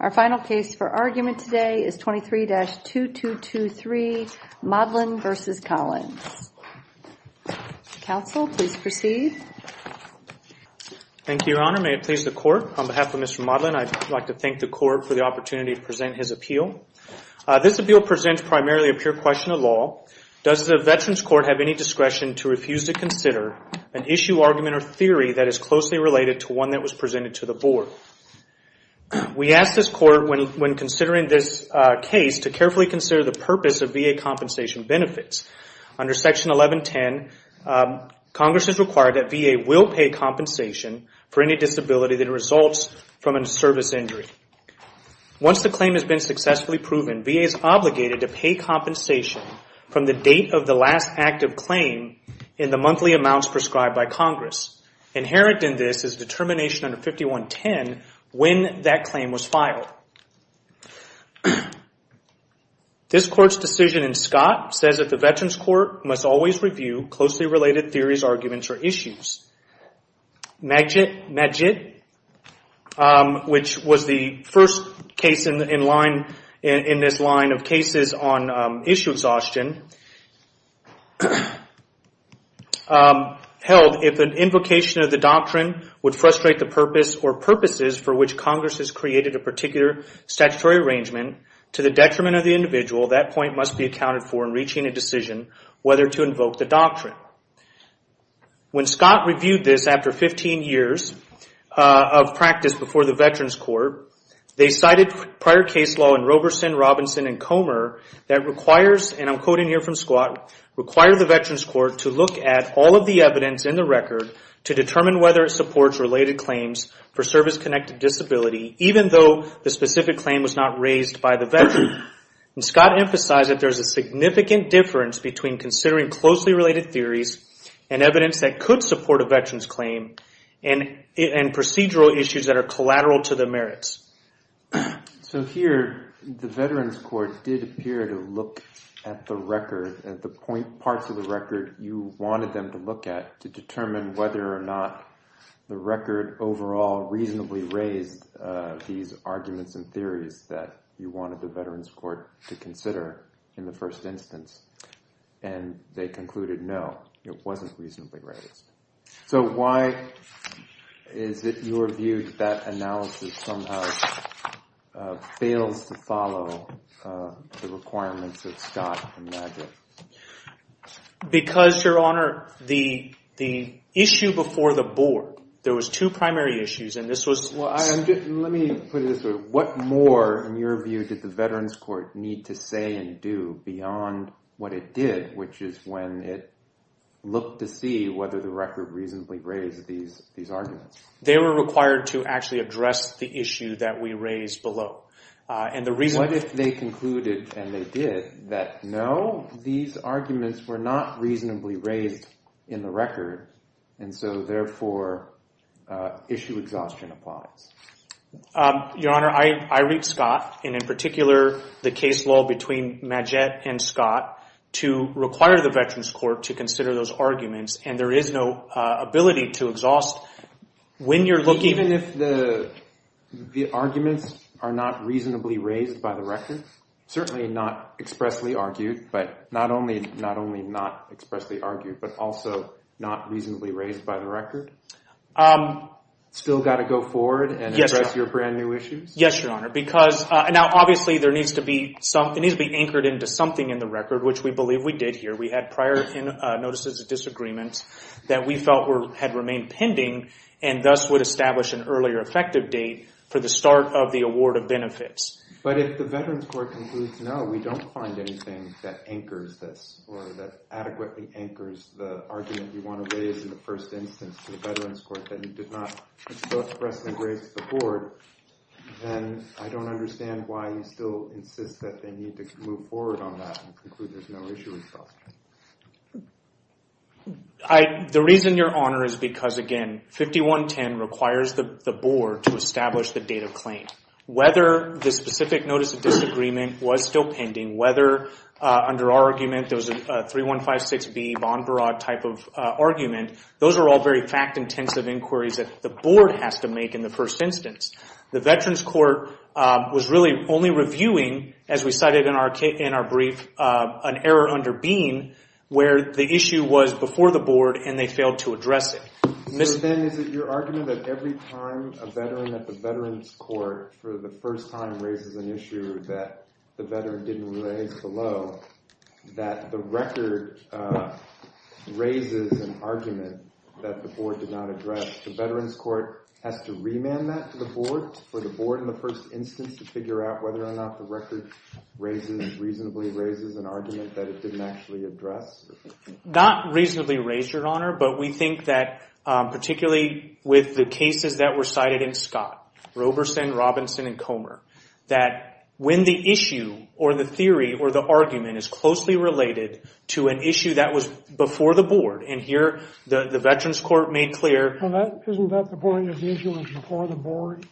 Our final case for argument today is 23-2223, Modlin v. Collins. Counsel please proceed. Thank you, Your Honor. May it please the Court, on behalf of Mr. Modlin, I'd like to thank the Court for the opportunity to present his appeal. This appeal presents primarily a pure question of law. Does the Veterans Court have any discretion to refuse to consider an issue, argument, or theory that is closely related to one that was presented to the Board? So, we asked this Court, when considering this case, to carefully consider the purpose of VA compensation benefits. Under Section 1110, Congress has required that VA will pay compensation for any disability that results from a service injury. Once the claim has been successfully proven, VA is obligated to pay compensation from the date of the last active claim in the monthly amounts prescribed by Congress. Inherent in this is determination under 5110 when that claim was filed. This Court's decision in Scott says that the Veterans Court must always review closely related theories, arguments, or issues. Medjid, which was the first case in this line of cases on issue exhaustion, held if an invocation of the doctrine would frustrate the purpose or purposes for which Congress has created a particular statutory arrangement to the detriment of the individual, that point must be accounted for in reaching a decision whether to invoke the doctrine. Now, when Scott reviewed this after 15 years of practice before the Veterans Court, they cited prior case law in Roberson, Robinson, and Comer that requires, and I'm quoting here from Scott, require the Veterans Court to look at all of the evidence in the record to determine whether it supports related claims for service-connected disability, even though the specific claim was not raised by the veteran. Scott emphasized that there's a significant difference between considering closely related theories and evidence that could support a veteran's claim and procedural issues that are collateral to the merits. So here, the Veterans Court did appear to look at the record, at the point parts of the record you wanted them to look at to determine whether or not the record overall reasonably raised these arguments and theories that you wanted the Veterans Court to consider in the first instance, and they concluded, no, it wasn't reasonably raised. So why is it your view that that analysis somehow fails to follow the requirements of Scott and Magic? Because Your Honor, the issue before the board, there was two primary issues and this was Well, let me put it this way, what more in your view did the Veterans Court need to say and do beyond what it did, which is when it looked to see whether the record reasonably raised these arguments? They were required to actually address the issue that we raised below. And the reason What if they concluded, and they did, that no, these arguments were not reasonably raised in the record, and so therefore, issue exhaustion applies? Your Honor, I read Scott, and in particular, the case law between Maget and Scott to require the Veterans Court to consider those arguments, and there is no ability to exhaust when you're looking Even if the arguments are not reasonably raised by the record, certainly not expressly argued, but not only not expressly argued, but also not reasonably raised by the record, still got to go forward and address your brand new issues? Yes, Your Honor, because now, obviously, there needs to be some, it needs to be anchored into something in the record, which we believe we did here. We had prior notices of disagreement that we felt had remained pending, and thus would establish an earlier effective date for the start of the award of benefits. But if the Veterans Court concludes, no, we don't find anything that anchors this or that adequately anchors the argument you want to raise in the first instance to the Veterans Court, and not expressly raise to the board, then I don't understand why you still insist that they need to move forward on that and conclude there's no issue with Scott. The reason, Your Honor, is because, again, 5110 requires the board to establish the date of claim. Whether the specific notice of disagreement was still pending, whether under our argument there was a 3156B bond broad type of argument, those are all very fact-intensive inquiries that the board has to make in the first instance. The Veterans Court was really only reviewing, as we cited in our brief, an error under Bean, where the issue was before the board, and they failed to address it. So then, is it your argument that every time a veteran at the Veterans Court, for the first time, raises an issue that the veteran didn't raise below, that the record raises an argument that the board did not address, the Veterans Court has to remand that to the board, for the board in the first instance, to figure out whether or not the record reasonably raises an argument that it didn't actually address? Not reasonably raise, Your Honor, but we think that, particularly with the cases that were cited in Scott, Roberson, Robinson, and Comer, that when the issue, or the theory, or the argument, is closely related to an issue that was before the board, and here, the Veterans Court made clear. Well, isn't that the point, that the issue was before the board?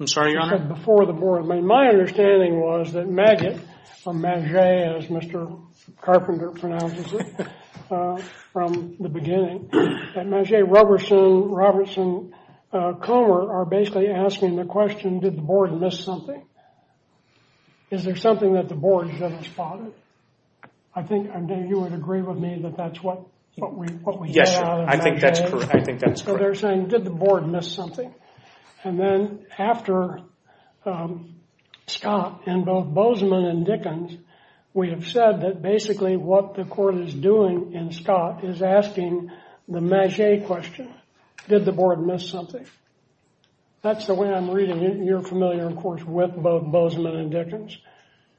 I'm sorry, Your Honor? Before the board. My understanding was that Maggett, or Maggett, as Mr. Carpenter pronounces it, from the beginning, that Maggett, Roberson, Roberson, Comer, are basically asking the question, did the board miss something? Is there something that the board should have spotted? I think, I know you would agree with me that that's what we get out of Maggett. Yes, Your Honor. I think that's correct. I think that's correct. So they're saying, did the board miss something? And then, after Scott, and both Bozeman and Dickens, we have said that basically what the court is doing in Scott is asking the Maggett question, did the board miss something? That's the way I'm reading it. You're familiar, of course, with both Bozeman and Dickens.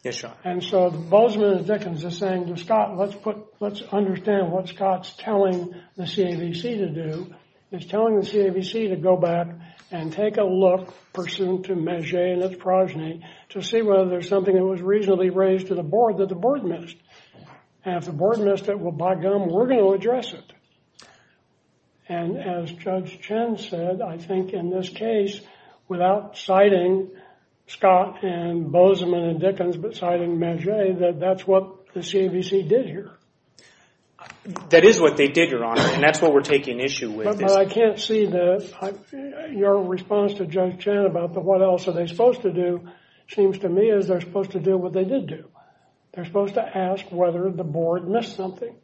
Yes, Your Honor. And so, Bozeman and Dickens are saying to Scott, let's put, let's understand what Scott's telling the CAVC to do, is telling the CAVC to go back and take a look, pursuant to Maggett and its progeny, to see whether there's something that was reasonably raised to the board that the board missed. And if the board missed it, well, by gum, we're going to address it. And as Judge Chen said, I think in this case, without citing Scott and Bozeman and Dickens, but citing Maggett, that that's what the CAVC did here. That is what they did, Your Honor, and that's what we're taking issue with. But I can't see that. Your response to Judge Chen about the what else are they supposed to do, seems to me as they're supposed to do what they did do. They're supposed to ask whether the board missed something.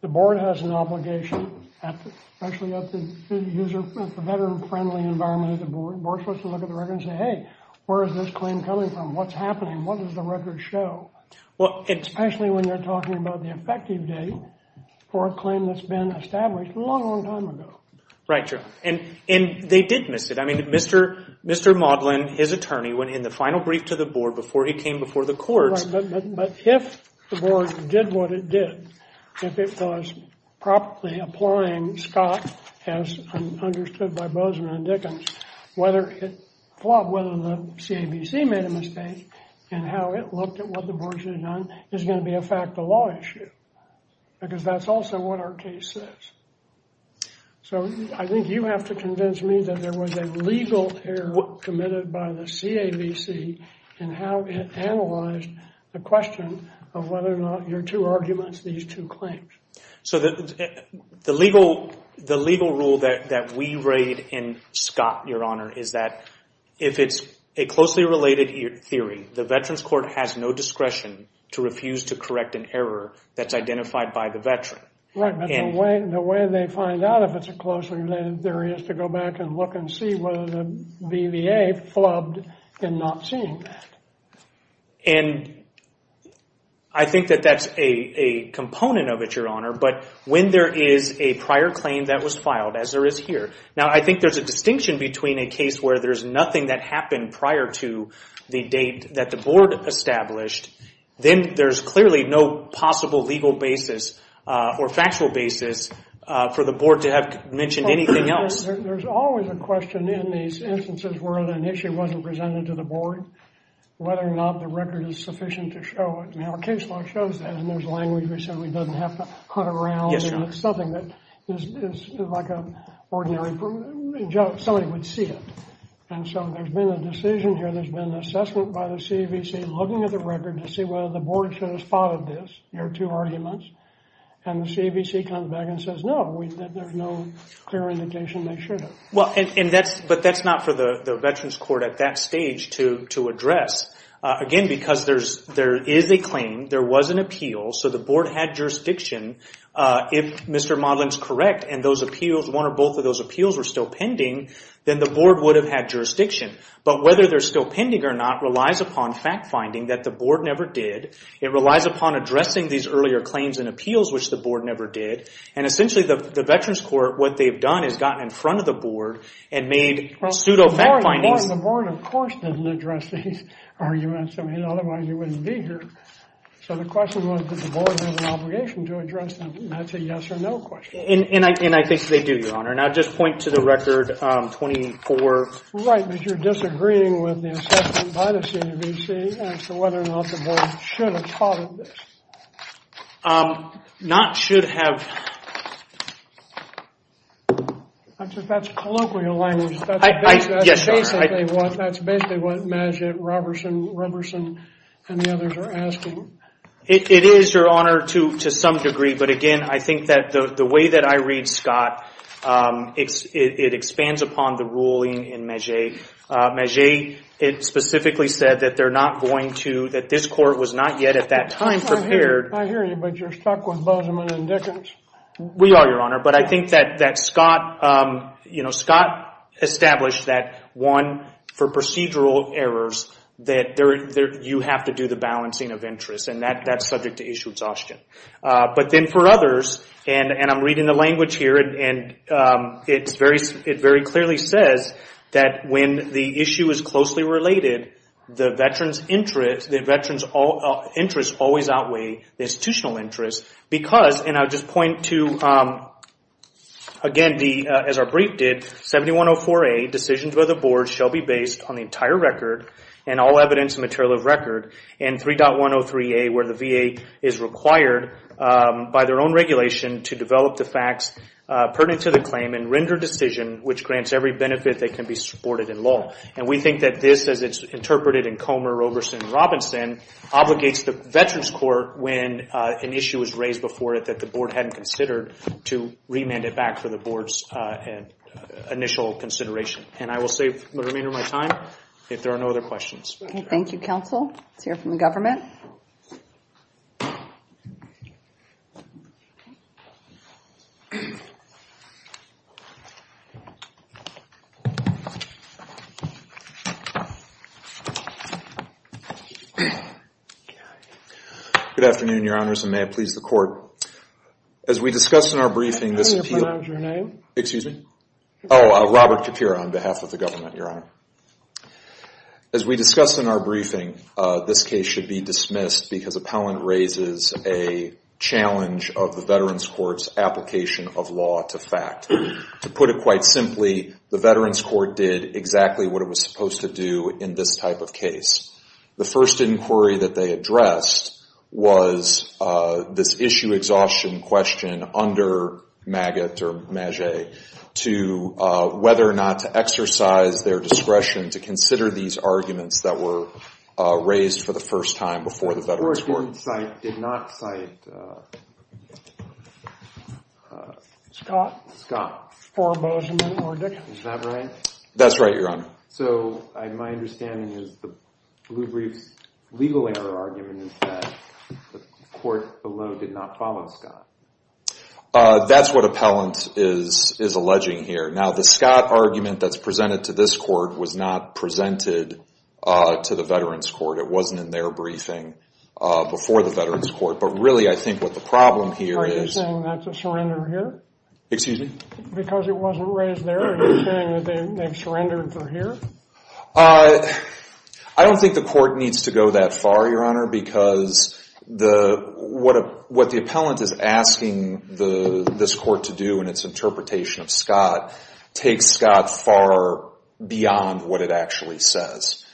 The board has an obligation, especially at the veteran-friendly environment of the board, the board is supposed to look at the record and say, hey, where is this claim coming from? What's happening? What does the record show? Especially when you're talking about the effective date for a claim that's been established a long, long time ago. Right, Your Honor. And they did miss it. I mean, Mr. Modlin, his attorney, went in the final brief to the board before he came before the courts. Right, but if the board did what it did, if it was properly applying Scott, as understood by Bozeman and Dickens, whether it flopped, whether the CAVC made a mistake, and how it looked at what the board should have done, is going to be a fact of law issue. Because that's also what our case says. So I think you have to convince me that there was a legal error committed by the CAVC in how it analyzed the question of whether or not your two arguments, these two claims. So the legal rule that we read in Scott, Your Honor, is that if it's a closely related theory, the Veterans Court has no discretion to refuse to correct an error that's identified by the veteran. Right, but the way they find out if it's a closely related theory is to go back and look and see whether the BVA flubbed in not seeing that. And I think that that's a component of it, Your Honor, but when there is a prior claim that was filed, as there is here, now I think there's a distinction between a case where there's nothing that happened prior to the date that the board established, then there's clearly no possible legal basis or factual basis for the board to have mentioned anything else. There's always a question in these instances where an issue wasn't presented to the board, whether or not the record is sufficient to show it. Our case law shows that, and there's language that says we don't have to hunt around. It's something that is like an ordinary joke. Somebody would see it. And so there's been a decision here, there's been an assessment by the CAVC looking at the record to see whether the board should have spotted this, your two arguments, and the CAVC comes back and says, no, there's no clear indication they should have. Well, but that's not for the Veterans Court at that stage to address. Again, because there is a claim, there was an appeal, so the board had jurisdiction. If Mr. Modlin's correct and those appeals, one or both of those appeals were still pending, then the board would have had jurisdiction. But whether they're still pending or not relies upon fact-finding that the board never did. It relies upon addressing these earlier claims and appeals, which the board never did. And essentially, the Veterans Court, what they've done is gotten in front of the board and made pseudo fact-findings. The board, of course, didn't address these arguments. I mean, otherwise you wouldn't be here. So the question was, did the board have an obligation to address them? And that's a yes or no question. And I think they do, Your Honor. And I'll just point to the record 24. Right, but you're disagreeing with the assessment by the CAVC as to whether or not the board should have thought of this. Not should have. I think that's colloquial language. Yes, Your Honor. That's basically what Maget, Roberson, and the others are asking. It is, Your Honor, to some degree. But again, I think that the way that I read Scott, it expands upon the ruling in Maget. Maget specifically said that this court was not yet at that time prepared. I hear you, but you're stuck with Bozeman and Dickens. We are, Your Honor. But I think that Scott established that, one, for procedural errors, that you have to do the balancing of interests. And that's subject to issue exhaustion. But then for others, and I'm reading the language here, and it very clearly says that when the issue is closely related, the veterans' interests always outweigh the institutional interests because, and I'll just point to, again, as our brief did, 7104A, decisions by the board shall be based on the entire record and all evidence and material of record, and 3.103A, where the VA is required by their own regulation to develop the facts pertinent to the claim and render decision which grants every benefit that can be supported in law. And we think that this, as it's interpreted in Comer, Roberson, and Robinson, obligates the veterans' court, when an issue was raised before it that the board hadn't considered, to remand it back for the board's initial consideration. And I will save the remainder of my time if there are no other questions. Okay, thank you, counsel. Let's hear from the government. Good afternoon, Your Honors, and may it please the court. As we discussed in our briefing, this appealó I didn't hear you pronounce your name. Excuse me? Oh, Robert Kapira on behalf of the government, Your Honor. As we discussed in our briefing, this case should be dismissed because appellant raises a challenge of the veterans' court's application of law to fact. To put it quite simply, the veterans' court did exactly what it was supposed to do in this type of case. The first inquiry that they addressed was this issue exhaustion question under Maggott or Maget to whether or not to exercise their discretion to consider these arguments that were raised for the first time before the veterans' court. The court did not citeó Scott. Scott. For Bozeman or Dickens. Is that right? That's right, Your Honor. So my understanding is the Blue Brief's legal error argument is that the court below did not follow Scott. That's what appellant is alleging here. Now, the Scott argument that's presented to this court was not presented to the veterans' court. It wasn't in their briefing before the veterans' court. But really, I think what the problem here isó Are you saying that's a surrender here? Excuse me? Because it wasn't raised there, are you saying that they've surrendered from here? I don't think the court needs to go that far, Your Honor, because what the appellant is asking this court to do in its interpretation of Scott takes Scott far beyond what it actually says.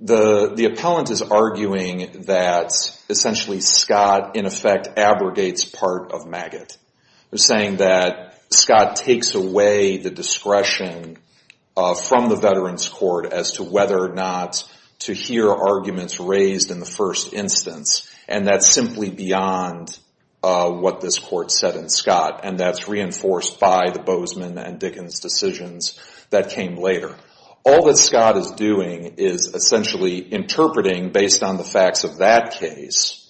The appellant is arguing that essentially Scott, in effect, abrogates part of Maggott. They're saying that Scott takes away the discretion from the veterans' court as to whether or not to hear arguments raised in the first instance. And that's simply beyond what this court said in Scott. And that's reinforced by the Bozeman and Dickens decisions that came later. All that Scott is doing is essentially interpreting, based on the facts of that case,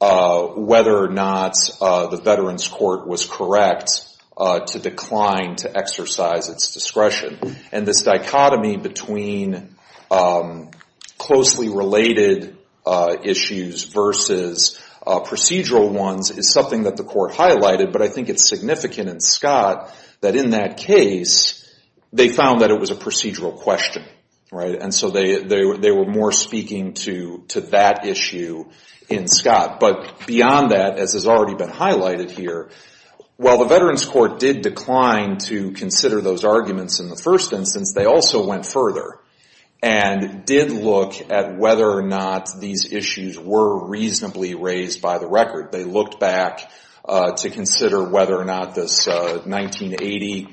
whether or not the veterans' court was correct to decline to exercise its discretion. And this dichotomy between closely related issues versus procedural ones is something that the court highlighted. But I think it's significant in Scott that, in that case, they found that it was a procedural question. And so they were more speaking to that issue in Scott. But beyond that, as has already been highlighted here, while the veterans' court did decline to consider those arguments in the first instance, they also went further and did look at whether or not these issues were reasonably raised by the record. They looked back to consider whether or not this 1980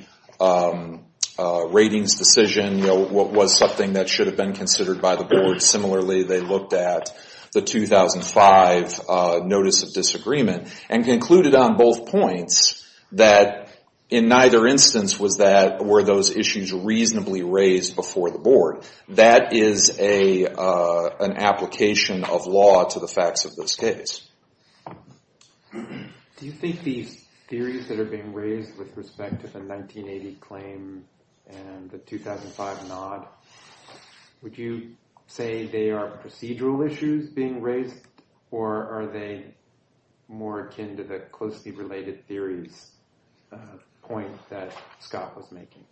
ratings decision was something that should have been considered by the board. Similarly, they looked at the 2005 notice of disagreement and concluded on both points that, in neither instance, were those issues reasonably raised before the board. That is an application of law to the facts of this case. Do you think these theories that are being raised with respect to the 1980 claim and the 2005 nod, would you say they are procedural issues being raised, or are they more akin to the closely related theories point that Scott was making?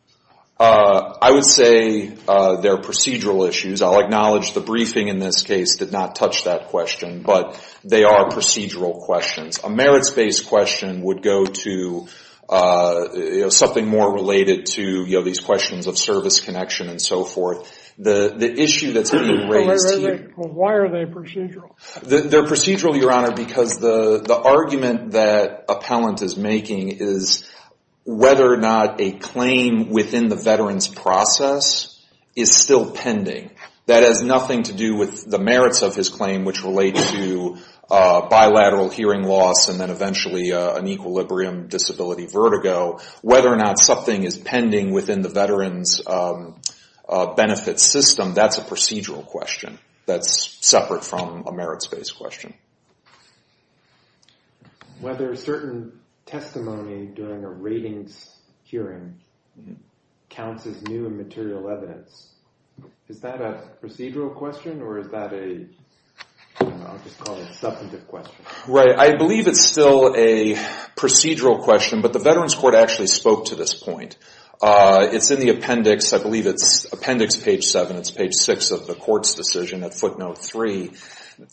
I would say they're procedural issues. I'll acknowledge the briefing in this case did not touch that question, but they are procedural questions. A merits-based question would go to something more related to these questions of service connection and so forth. The issue that's being raised here... Why are they procedural? They're procedural, Your Honor, because the argument that appellant is making is whether or not a claim within the veteran's process is still pending. That has nothing to do with the merits of his claim, which relates to bilateral hearing loss and then eventually an equilibrium disability vertigo. Whether or not something is pending within the veteran's benefit system, that's a procedural question. That's separate from a merits-based question. Whether certain testimony during a ratings hearing counts as new and material evidence, is that a procedural question or is that a substantive question? I believe it's still a procedural question, but the Veterans Court actually spoke to this point. It's in the appendix. I believe it's appendix page 7. It's page 6 of the court's decision at footnote 3.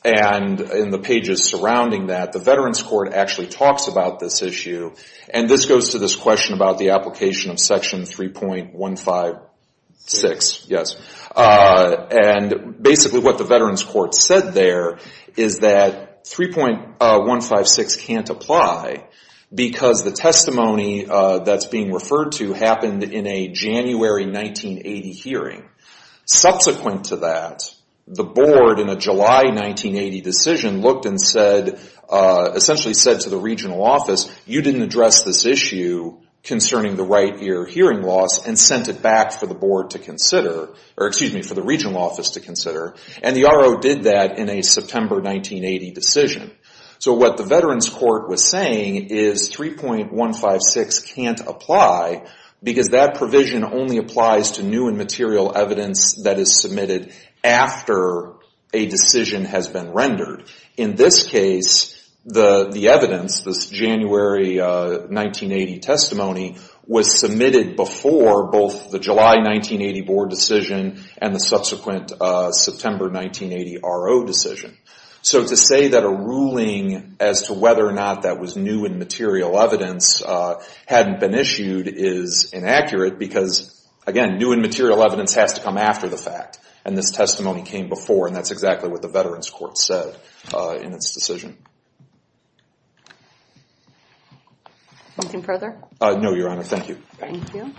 In the pages surrounding that, the Veterans Court actually talks about this issue. This goes to this question about the application of section 3.156. Basically what the Veterans Court said there is that 3.156 can't apply because the testimony that's being referred to happened in a January 1980 hearing. Subsequent to that, the board in a July 1980 decision looked and said, essentially said to the regional office, you didn't address this issue concerning the right ear hearing loss and sent it back for the board to consider, or excuse me, for the regional office to consider. And the RO did that in a September 1980 decision. So what the Veterans Court was saying is 3.156 can't apply because that provision only applies to new and material evidence that is submitted after a decision has been rendered. In this case, the evidence, this January 1980 testimony, was submitted before both the July 1980 board decision and the subsequent September 1980 RO decision. So to say that a ruling as to whether or not that was new and material evidence hadn't been issued is inaccurate because, again, new and material evidence has to come after the fact and this testimony came before and that's exactly what the Veterans Court said in its decision. Anything further? No, Your Honor. Thank you. Thank you.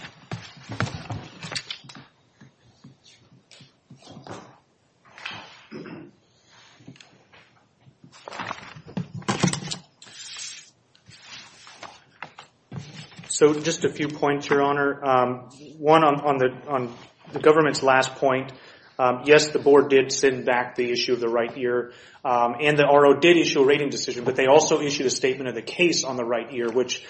So just a few points, Your Honor. One on the government's last point. Yes, the board did send back the issue of the right ear and the RO did issue a rating decision, but they also issued a statement of the case on the right ear, which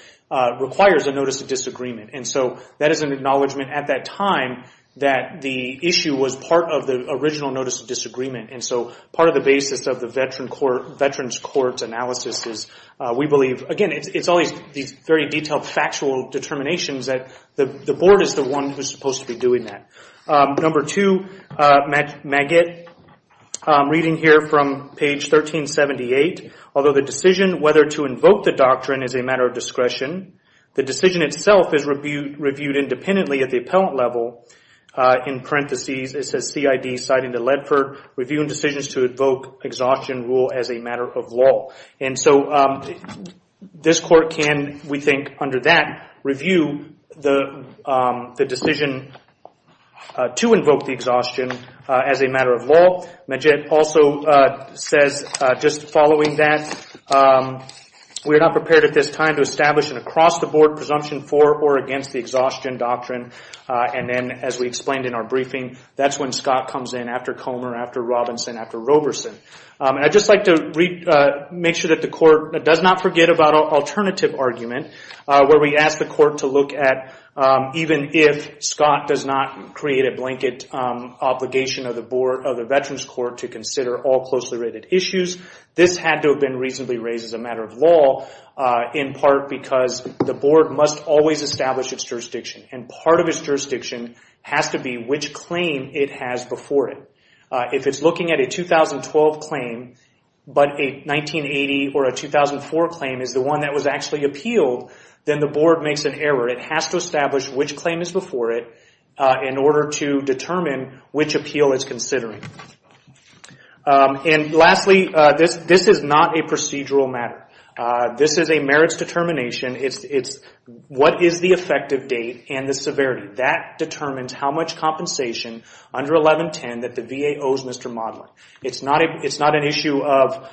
requires a notice of disagreement. And so that is an acknowledgment at that time that the issue was part of the original notice of disagreement. And so part of the basis of the Veterans Court's analysis is we believe, again, it's always these very detailed factual determinations that the board is the one who's supposed to be doing that. Number two, Maggett, reading here from page 1378, although the decision whether to invoke the doctrine is a matter of discretion, the decision itself is reviewed independently at the appellant level. In parentheses it says, CID citing the Ledford reviewing decisions to invoke exhaustion rule as a matter of law. And so this court can, we think, under that, review the decision to invoke the exhaustion as a matter of law. Maggett also says, just following that, we are not prepared at this time to establish an across-the-board presumption for or against the exhaustion doctrine. And then, as we explained in our briefing, that's when Scott comes in after Comer, after Robinson, after Roberson. And I'd just like to make sure that the court does not forget about an alternative argument where we ask the court to look at even if Scott does not create a blanket obligation of the board, of the Veterans Court to consider all closely related issues, this had to have been reasonably raised as a matter of law, in part because the board must always establish its jurisdiction. And part of its jurisdiction has to be which claim it has before it. If it's looking at a 2012 claim, but a 1980 or a 2004 claim is the one that was actually appealed, then the board makes an error. It has to establish which claim is before it in order to determine which appeal it's considering. And lastly, this is not a procedural matter. This is a merits determination. It's what is the effective date and the severity. That determines how much compensation under 1110 that the VA owes Mr. Modlin. It's not an issue of,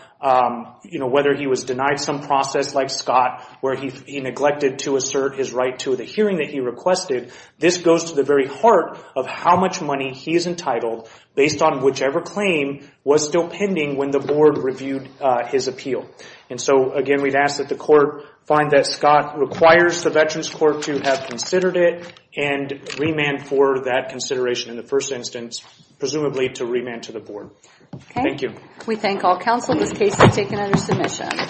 you know, whether he was denied some process like Scott, where he neglected to assert his right to the hearing that he requested. This goes to the very heart of how much money he is entitled based on whichever claim was still pending when the board reviewed his appeal. And so, again, we'd ask that the court find that Scott requires the Veterans Court to have considered it and remand for that consideration in the first instance, presumably to remand to the board. Okay. Thank you. We thank all counsel. This case is taken under submission.